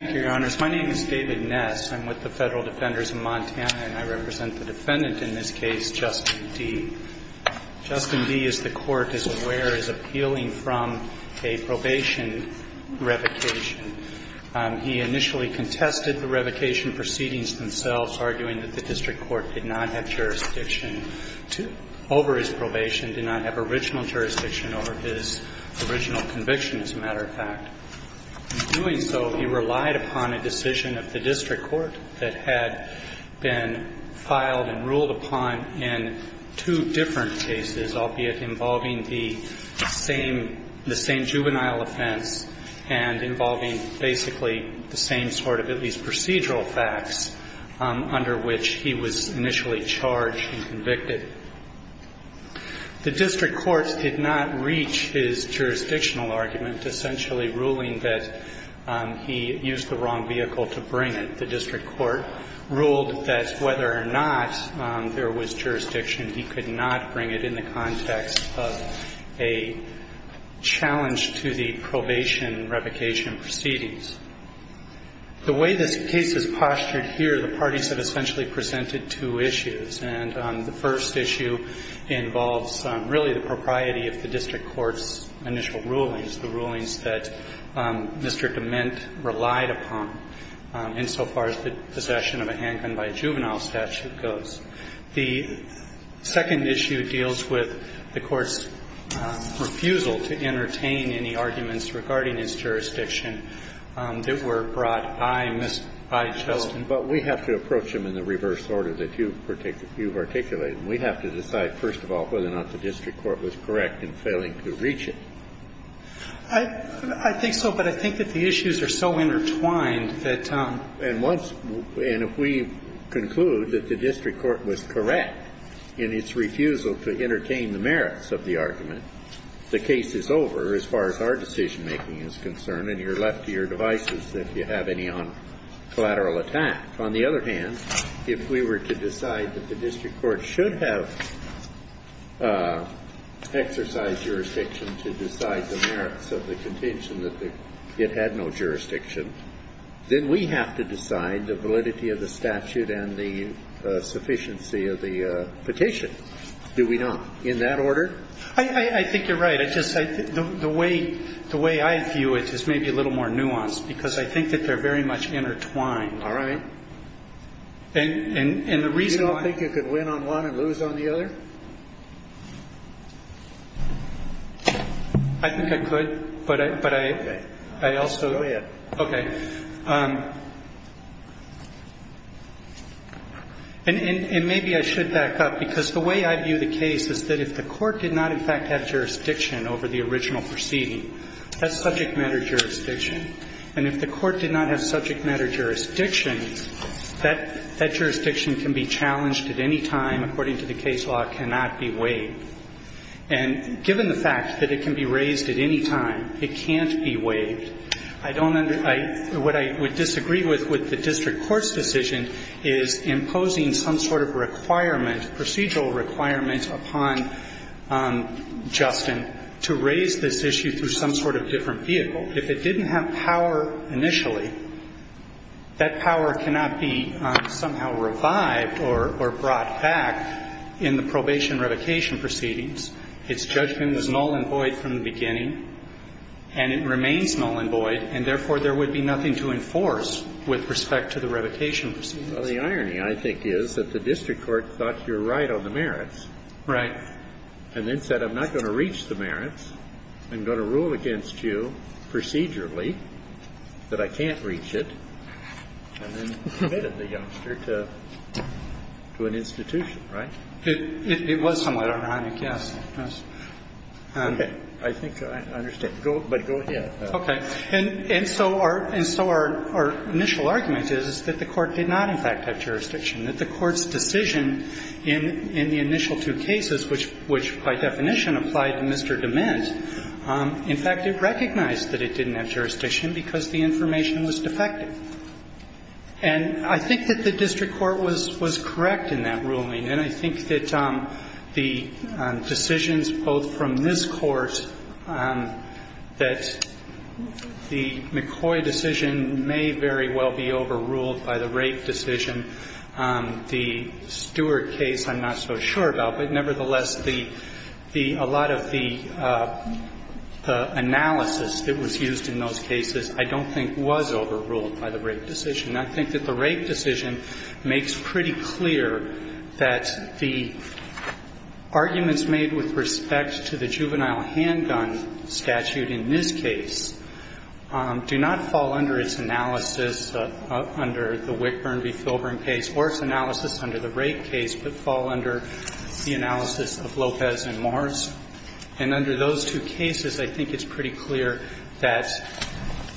Thank you, Your Honors. My name is David Ness. I'm with the Federal Defenders of Montana, and I represent the defendant in this case, Justin Dee. Justin Dee, as the Court is aware, is appealing from a probation revocation. He initially contested the revocation proceedings themselves, arguing that the district court did not have jurisdiction over his probation, did not have original jurisdiction over his original conviction, as a matter of fact. In doing so, he relied upon a decision of the district court that had been filed and ruled upon in two different cases, albeit involving the same juvenile offense and involving basically the same sort of at least procedural facts under which he was initially charged and convicted. The district court did not reach his jurisdictional argument, essentially ruling that he used the wrong vehicle to bring it. The district court ruled that whether or not there was jurisdiction, he could not bring it in the context of a challenge to the probation revocation proceedings. The way this case is postured here, the parties have essentially presented two issues. And the first issue involves really the propriety of the district court's initial rulings, the rulings that Mr. DeMint relied upon, insofar as the possession of a handgun by a juvenile statute goes. The second issue deals with the Court's refusal to entertain any arguments regarding his jurisdiction that were brought by Mr. Justin. Kennedy But we have to approach them in the reverse order that you've articulated. We have to decide, first of all, whether or not the district court was correct in failing to reach it. Garrett I think so, but I think that the issues are so intertwined that one's And if we conclude that the district court was correct in its refusal to entertain the merits of the argument, the case is over as far as our decision-making is concerned, and you're left to your devices if you have any collateral attack. On the other hand, if we were to decide that the district court should have exercised jurisdiction to decide the merits of the contention that it had no jurisdiction, then we have to decide the validity of the statute and the sufficiency of the petition. Do we not? In that order? Garrett I think you're right. I just think the way I view it is maybe a little more nuanced, because I think that they're very much intertwined. All right. And the reason why- You don't think you could win on one and lose on the other? I think I could, but I also- Go ahead. Okay. And maybe I should back up, because the way I view the case is that if the court did not, in fact, have jurisdiction over the original proceeding, that's subject matter jurisdiction. And if the court did not have subject matter jurisdiction, that jurisdiction can be challenged at any time. According to the case law, it cannot be waived. And given the fact that it can be raised at any time, it can't be waived. I don't under- What I would disagree with with the district court's decision is imposing some sort of requirement, procedural requirement, upon Justin to raise this issue through some sort of different vehicle. If it didn't have power initially, that power cannot be somehow revived or brought back in the probation revocation proceedings. Its judgment was null and void from the beginning, and it remains null and void, and therefore there would be nothing to enforce with respect to the revocation proceedings. Well, the irony, I think, is that the district court thought you're right on the merits- Right. And then said, I'm not going to reach the merits. I'm going to rule against you procedurally that I can't reach it, and then committed the youngster to an institution, right? It was somewhat ironic, yes. Okay. I think I understand. But go ahead. Okay. And so our initial argument is that the court did not, in fact, have jurisdiction, that the court's decision in the initial two cases, which by definition applied to Mr. DeMint, in fact, it recognized that it didn't have jurisdiction because the information was defective. And I think that the district court was correct in that ruling, and I think that the decisions both from this Court that the McCoy decision may very well be overruled by the Rape decision, the Stewart case I'm not so sure about. But nevertheless, a lot of the analysis that was used in those cases I don't think was overruled by the Rape decision. And I think that the Rape decision makes pretty clear that the arguments made with respect to the juvenile handgun statute in this case do not fall under its analysis under the Wickburn v. Filburn case or its analysis under the Rape case, but fall under the analysis of Lopez and Morris. And under those two cases, I think it's pretty clear that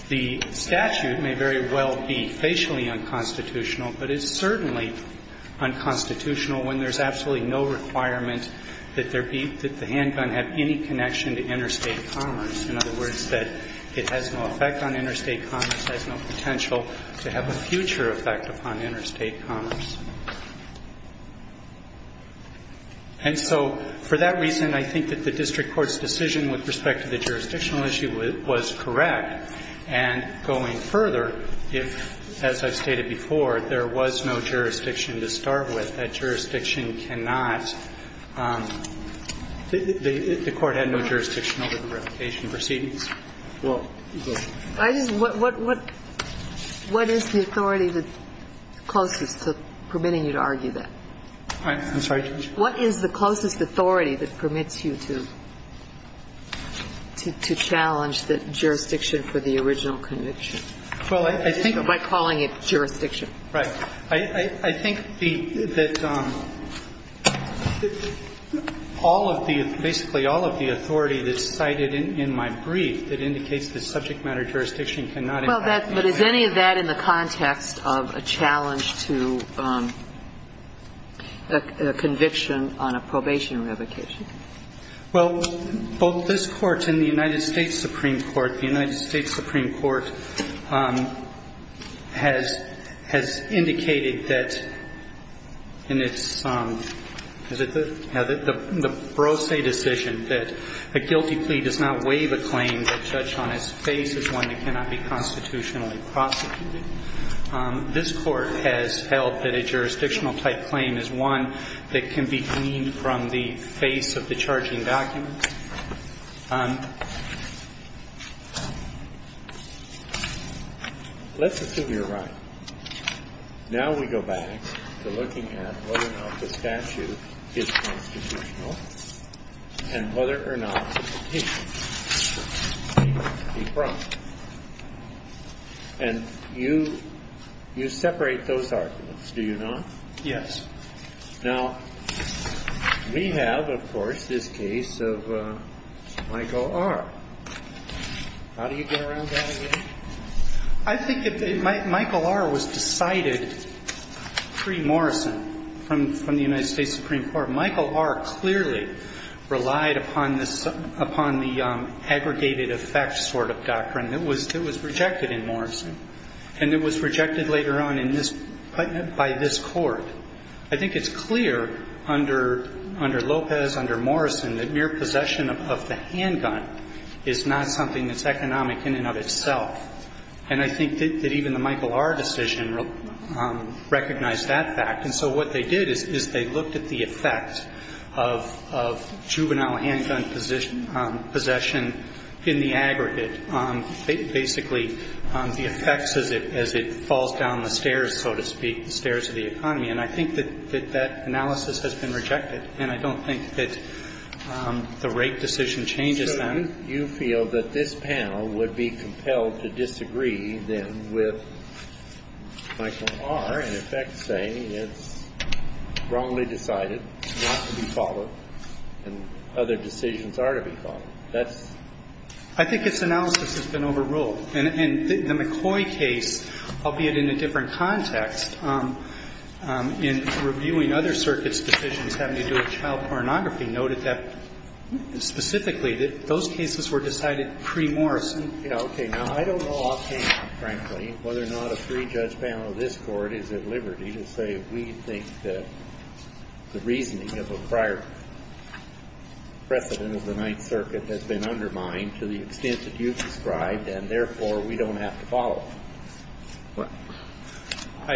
the statute may very well be facially unconstitutional, but it's certainly unconstitutional when there's absolutely no requirement that there be, that the handgun have any connection to interstate commerce. In other words, that it has no effect on interstate commerce, has no potential to have a future effect upon interstate commerce. And so for that reason, I think that the district court's decision with respect to the jurisdictional issue was correct. And going further, if, as I've stated before, there was no jurisdiction to start with, that jurisdiction cannot, the Court had no jurisdiction over the replication proceedings. Well, go ahead. What is the authority that's closest to permitting you to argue that? I'm sorry? What is the closest authority that permits you to challenge the jurisdiction for the original conviction by calling it jurisdiction? Right. I think that all of the, basically all of the authority that's cited in my opinion and in my brief that indicates this subject matter jurisdiction cannot impact jurisdiction. Well, but is any of that in the context of a challenge to a conviction on a probation revocation? Well, both this Court and the United States Supreme Court, the United States Supreme Court has, has indicated that in its, is it the? The Brosse decision that a guilty plea does not waive a claim that a judge on his face is one that cannot be constitutionally prosecuted. This Court has held that a jurisdictional type claim is one that can be deemed from the face of the charging documents. Let's assume you're right. Now we go back to looking at whether or not the statute is constitutional and whether or not it can be broken. And you, you separate those arguments, do you not? Yes. Now we have, of course, this case of Michael R. How do you get around that again? I think that Michael R. was decided pre-Morrison from, from the United States Supreme Court. Michael R. clearly relied upon this, upon the aggregated effect sort of doctrine that was, that was rejected in Morrison. And it was rejected later on in this, by this Court. I think it's clear under, under Lopez, under Morrison, that mere possession of the handgun is not something that's economic in and of itself. And I think that even the Michael R. decision recognized that fact. And so what they did is, is they looked at the effect of, of juvenile handgun position, possession in the aggregate, basically the effects as it, as it falls down the stairs, so to speak, the stairs of the economy. And I think that, that that analysis has been rejected. And I don't think that the rate decision changes them. So wouldn't you feel that this panel would be compelled to disagree then with Michael R. in effect saying it's wrongly decided not to be followed and other decisions are to be followed? That's... I think its analysis has been overruled. And, and the McCoy case, albeit in a different context, in reviewing other circuits' decisions having to do with child pornography, noted that specifically that those cases were decided pre-Morrison. Okay. Now, I don't know offhand, frankly, whether or not a three-judge panel of this Court is at liberty to say we think that the reasoning of a prior precedent of the Ninth Circuit has been undermined to the extent that you've described, and therefore we don't have to follow. I,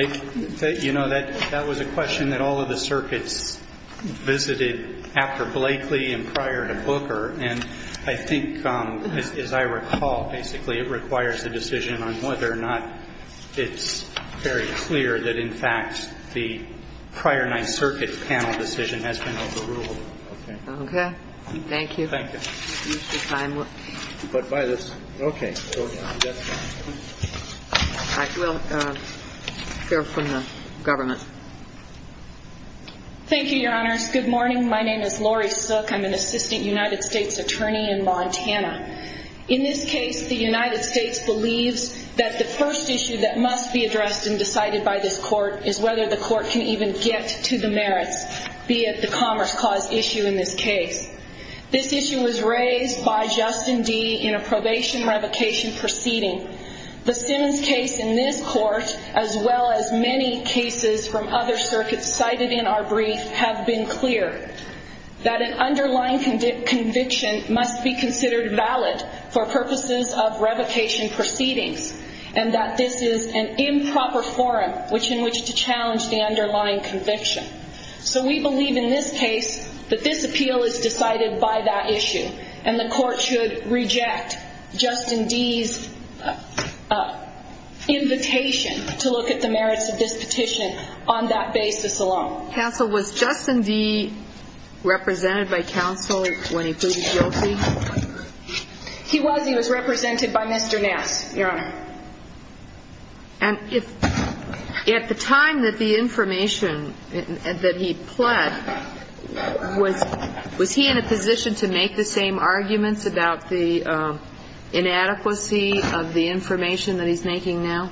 you know, that, that was a question that all of the circuits visited after Blakely and prior to Booker. And I think, as I recall, basically it requires a decision on whether or not it's very clear that, in fact, the prior Ninth Circuit panel decision has been overruled. Okay. Okay. Thank you. Thank you. Excuse the time. But by this... Okay. I will hear from the government. Thank you, Your Honors. Good morning. My name is Lori Sook. I'm an assistant United States attorney in Montana. In this case, the United States believes that the first issue that must be addressed and decided by this Court is whether the Court can even get to the merits, be it the Commerce Clause issue in this case. This issue was raised by Justin Dee in a probation revocation proceeding. The Simmons case in this Court, as well as many cases from other circuits cited in our brief, have been clear that an underlying conviction must be considered valid for purposes of revocation proceedings and that this is an improper forum in which to challenge the underlying conviction. So we believe in this case that this appeal is decided by that issue and the Court should reject Justin Dee's invitation to look at the merits of this petition on that basis alone. Counsel, was Justin Dee represented by counsel when he pleaded guilty? He was. He was represented by Mr. Nass, Your Honor. And if at the time that the information that he pled, was he in a position to make the same arguments about the inadequacy of the information that he's making now?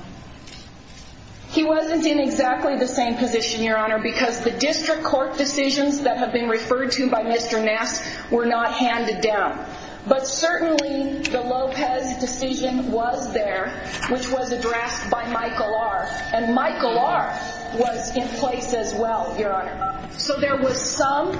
He wasn't in exactly the same position, Your Honor, because the district court decisions that have been referred to by Mr. Nass were not handed down. But certainly the Lopez decision was there, which was addressed by Michael R. And Michael R. was in place as well, Your Honor. So there was some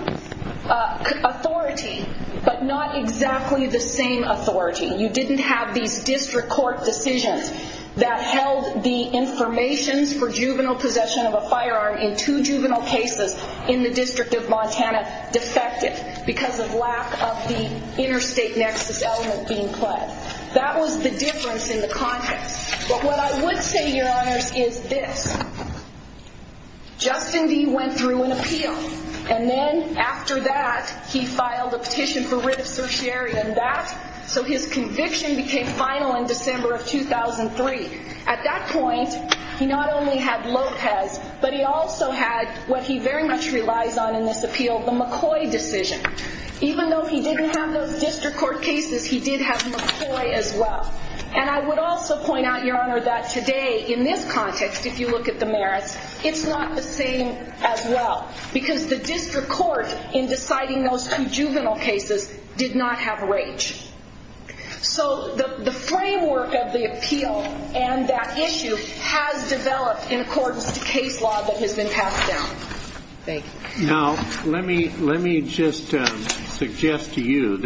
authority, but not exactly the same authority. You didn't have these district court decisions that held the information for juvenile possession of a firearm in two juvenile cases in the District of Montana defective because of lack of the interstate nexus element being pled. That was the difference in the context. But what I would say, Your Honors, is this. Justin Dee went through an appeal, and then after that, he filed a petition for conviction became final in December of 2003. At that point, he not only had Lopez, but he also had what he very much relies on in this appeal, the McCoy decision. Even though he didn't have those district court cases, he did have McCoy as well. And I would also point out, Your Honor, that today in this context, if you look at the merits, it's not the same as well. Because the district court in deciding those two juvenile cases did not have So the framework of the appeal and that issue has developed in accordance to case law that has been passed down. Thank you. Now let me just suggest to you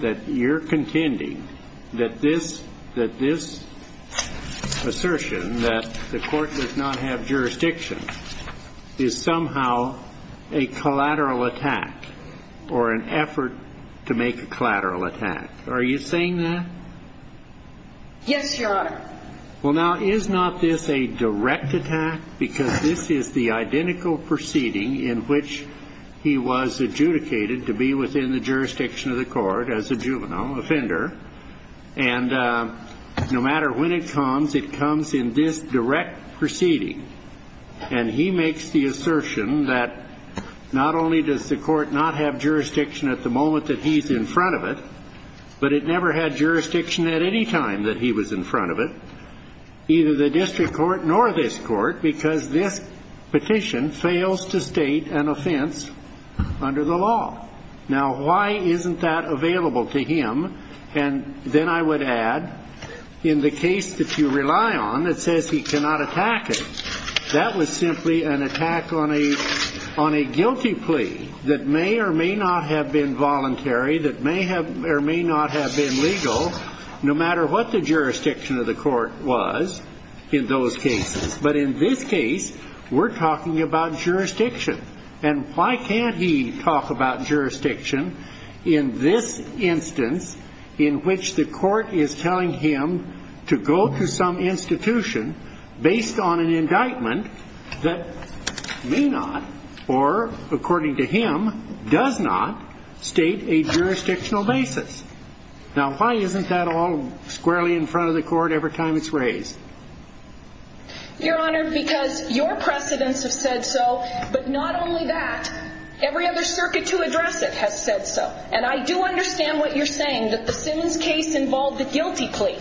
that you're contending that this assertion that the court does not have jurisdiction is somehow a collateral attack or an effort to make a collateral attack. Are you saying that? Yes, Your Honor. Well, now, is not this a direct attack? Because this is the identical proceeding in which he was adjudicated to be within the jurisdiction of the court as a juvenile offender. And no matter when it comes, it comes in this direct proceeding. And he makes the assertion that not only does the court not have jurisdiction at the moment that he's in front of it, but it never had jurisdiction at any time that he was in front of it, either the district court nor this court, because this petition fails to state an offense under the law. Now, why isn't that available to him? And then I would add, in the case that you rely on, it says he cannot attack it. That was simply an attack on a guilty plea that may or may not have been voluntary, that may or may not have been legal, no matter what the jurisdiction of the court was in those cases. But in this case, we're talking about jurisdiction. And why can't he talk about jurisdiction in this instance in which the court is telling him to go to some institution based on an indictment that may not or, according to him, does not state a jurisdictional basis? Now, why isn't that all squarely in front of the court every time it's raised? Your Honor, because your precedents have said so, but not only that, every other circuit to address it has said so. And I do understand what you're saying, that the Simmons case involved a guilty plea.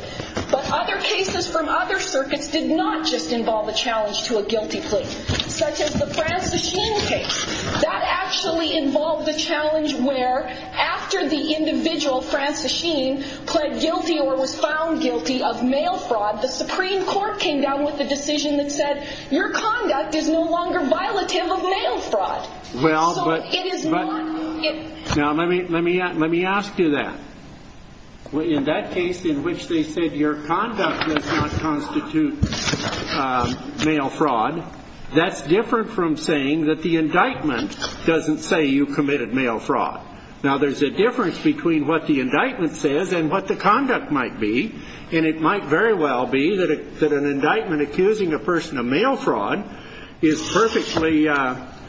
But other cases from other circuits did not just involve a challenge to a guilty plea, such as the Francis Sheen case. That actually involved a challenge where, after the individual, Francis Sheen, pled guilty or was found guilty of mail fraud, the Supreme Court came down with a decision that said, your conduct is no longer violative of mail fraud. Now, let me ask you that. In that case in which they said your conduct does not constitute mail fraud, that's different from saying that the indictment doesn't say you committed mail fraud. Now, there's a difference between what the indictment says and what the conduct might be. And it might very well be that an indictment accusing a person of mail fraud is perfectly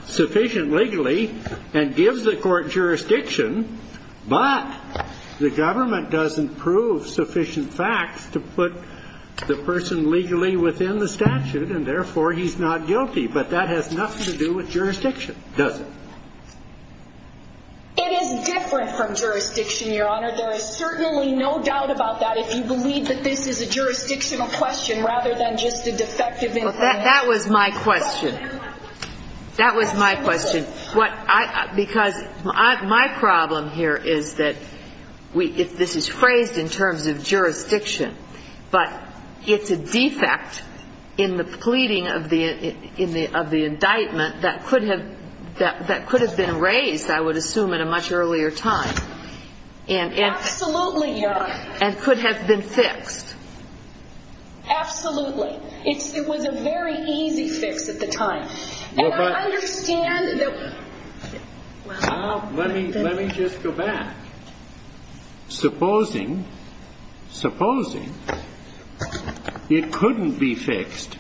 sufficient legally and gives the court jurisdiction, but the government doesn't prove sufficient facts to put the person legally within the statute, and therefore he's not guilty. But that has nothing to do with jurisdiction, does it? It is different from jurisdiction, Your Honor. There is certainly no doubt about that if you believe that this is a jurisdictional question rather than just a defective indictment. That was my question. That was my question. Because my problem here is that this is phrased in terms of jurisdiction, but it's a defect in the pleading of the indictment that could have been raised, I would assume, at a much earlier time. Absolutely, Your Honor. And could have been fixed. Absolutely. It was a very easy fix at the time. And I understand that... Well, let me just go back. Supposing it couldn't be fixed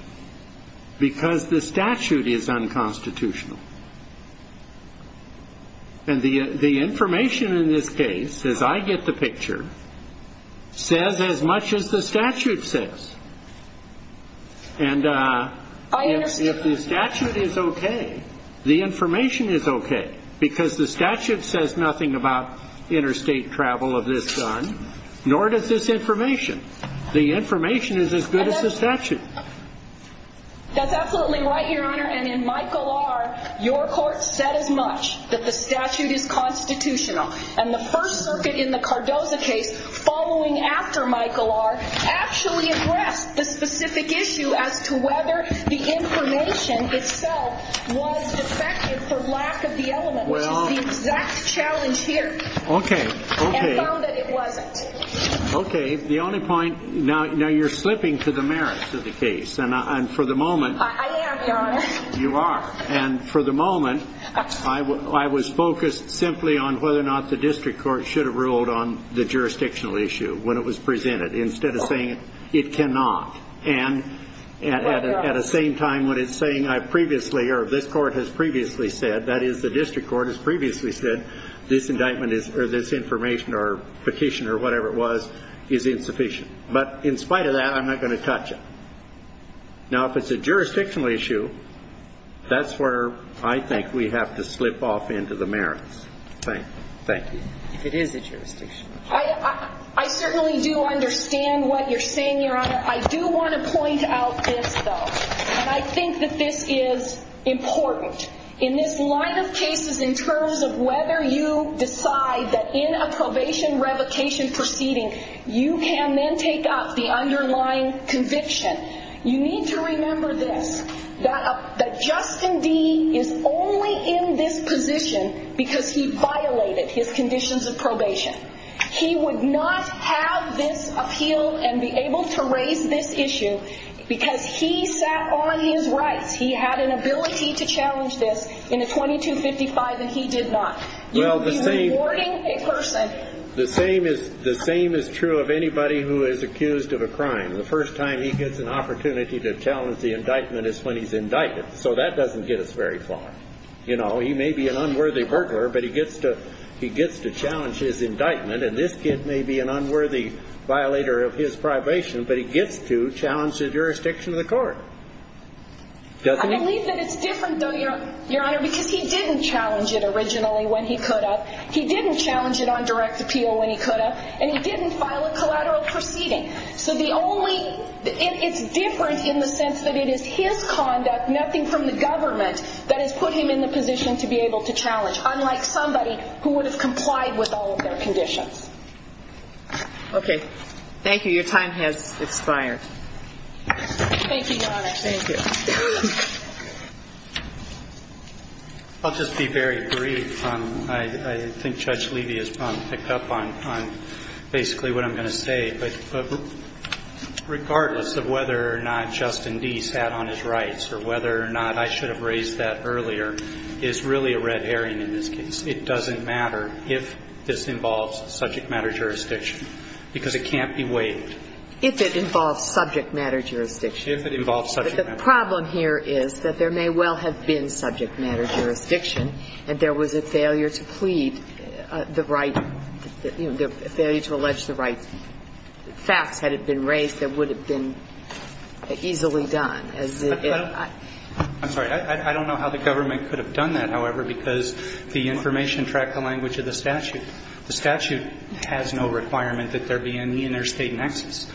because the statute is unconstitutional. And the information in this case, as I get the picture, says as much as the statute says. And if the statute is okay, the information is okay, because the statute says nothing about interstate travel of this gun, nor does this information. The information is as good as the statute. That's absolutely right, Your Honor. And in Michael R., your court said as much, that the statute is constitutional. And the First Circuit in the Cardoza case, following after Michael R., actually addressed the specific issue as to whether the information itself was defective for lack of the element, which is the exact challenge here, and found that it wasn't. Okay. The only point, now you're slipping to the merits of the case. And for the moment... I am, Your Honor. You are. And for the moment, I was focused simply on whether or not the district court should have ruled on the jurisdictional issue when it was presented, instead of saying it cannot. And at the same time, what it's saying, I previously, or this court has previously said, that is, the district court has previously said, this indictment, or this information, or petition, or whatever it was, is insufficient. But in spite of that, I'm not going to touch it. Now, if it's a jurisdictional issue, that's where I think we have to slip off into the merits. Thank you. It is a jurisdictional issue. I certainly do understand what you're saying, Your Honor. I do want to point out this, though. And I think that this is important. In this line of cases, in terms of whether you decide that in a probation revocation proceeding, you can then take up the underlying conviction. You need to remember this, that Justin D. is only in this position because he violated his conditions of probation. He would not have this appeal and be able to raise this issue because he sat on his rights. He had an ability to challenge this in a 2255, and he did not. Well, the same is true of anybody who is accused of a crime. The first time he gets an opportunity to challenge the indictment is when he's indicted. So that doesn't get us very far. You know, he may be an unworthy burglar, but he gets to challenge his indictment. And this kid may be an unworthy violator of his probation, but he gets to challenge the jurisdiction of the court. Doesn't he? I think that it's different, though, Your Honor, because he didn't challenge it originally when he could have. He didn't challenge it on direct appeal when he could have. And he didn't file a collateral proceeding. So the only – it's different in the sense that it is his conduct, nothing from the government, that has put him in the position to be able to challenge, unlike somebody who would have complied with all of their conditions. Okay. Thank you. Your time has expired. Thank you, Your Honor. Thank you. I'll just be very brief. I think Judge Levy has probably picked up on basically what I'm going to say. But regardless of whether or not Justin Deese had on his rights or whether or not I should have raised that earlier, it is really a red herring in this case. It doesn't matter if this involves subject matter jurisdiction, because it can't be waived. If it involves subject matter jurisdiction. If it involves subject matter jurisdiction. But the problem here is that there may well have been subject matter jurisdiction and there was a failure to plead the right, you know, a failure to allege the right facts had it been raised that would have been easily done. I'm sorry. I don't know how the government could have done that, however, because the information tracked the language of the statute. The statute has no requirement that there be any interstate nexus.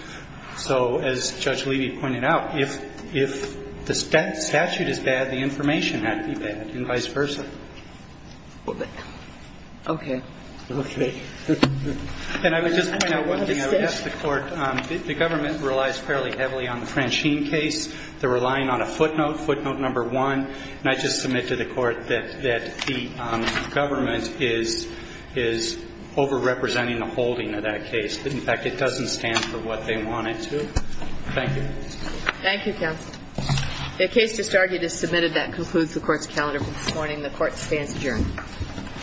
So as Judge Levy pointed out, if the statute is bad, the information had to be bad and vice versa. Okay. Okay. And I would just point out one thing I would ask the Court. The government relies fairly heavily on the Franchine case. They're relying on a footnote, footnote number one. And I just submit to the Court that the government is overrepresenting the holding of that case. In fact, it doesn't stand for what they want it to. Thank you. Thank you, counsel. The case just argued as submitted. That concludes the Court's calendar for this morning. The Court stands adjourned.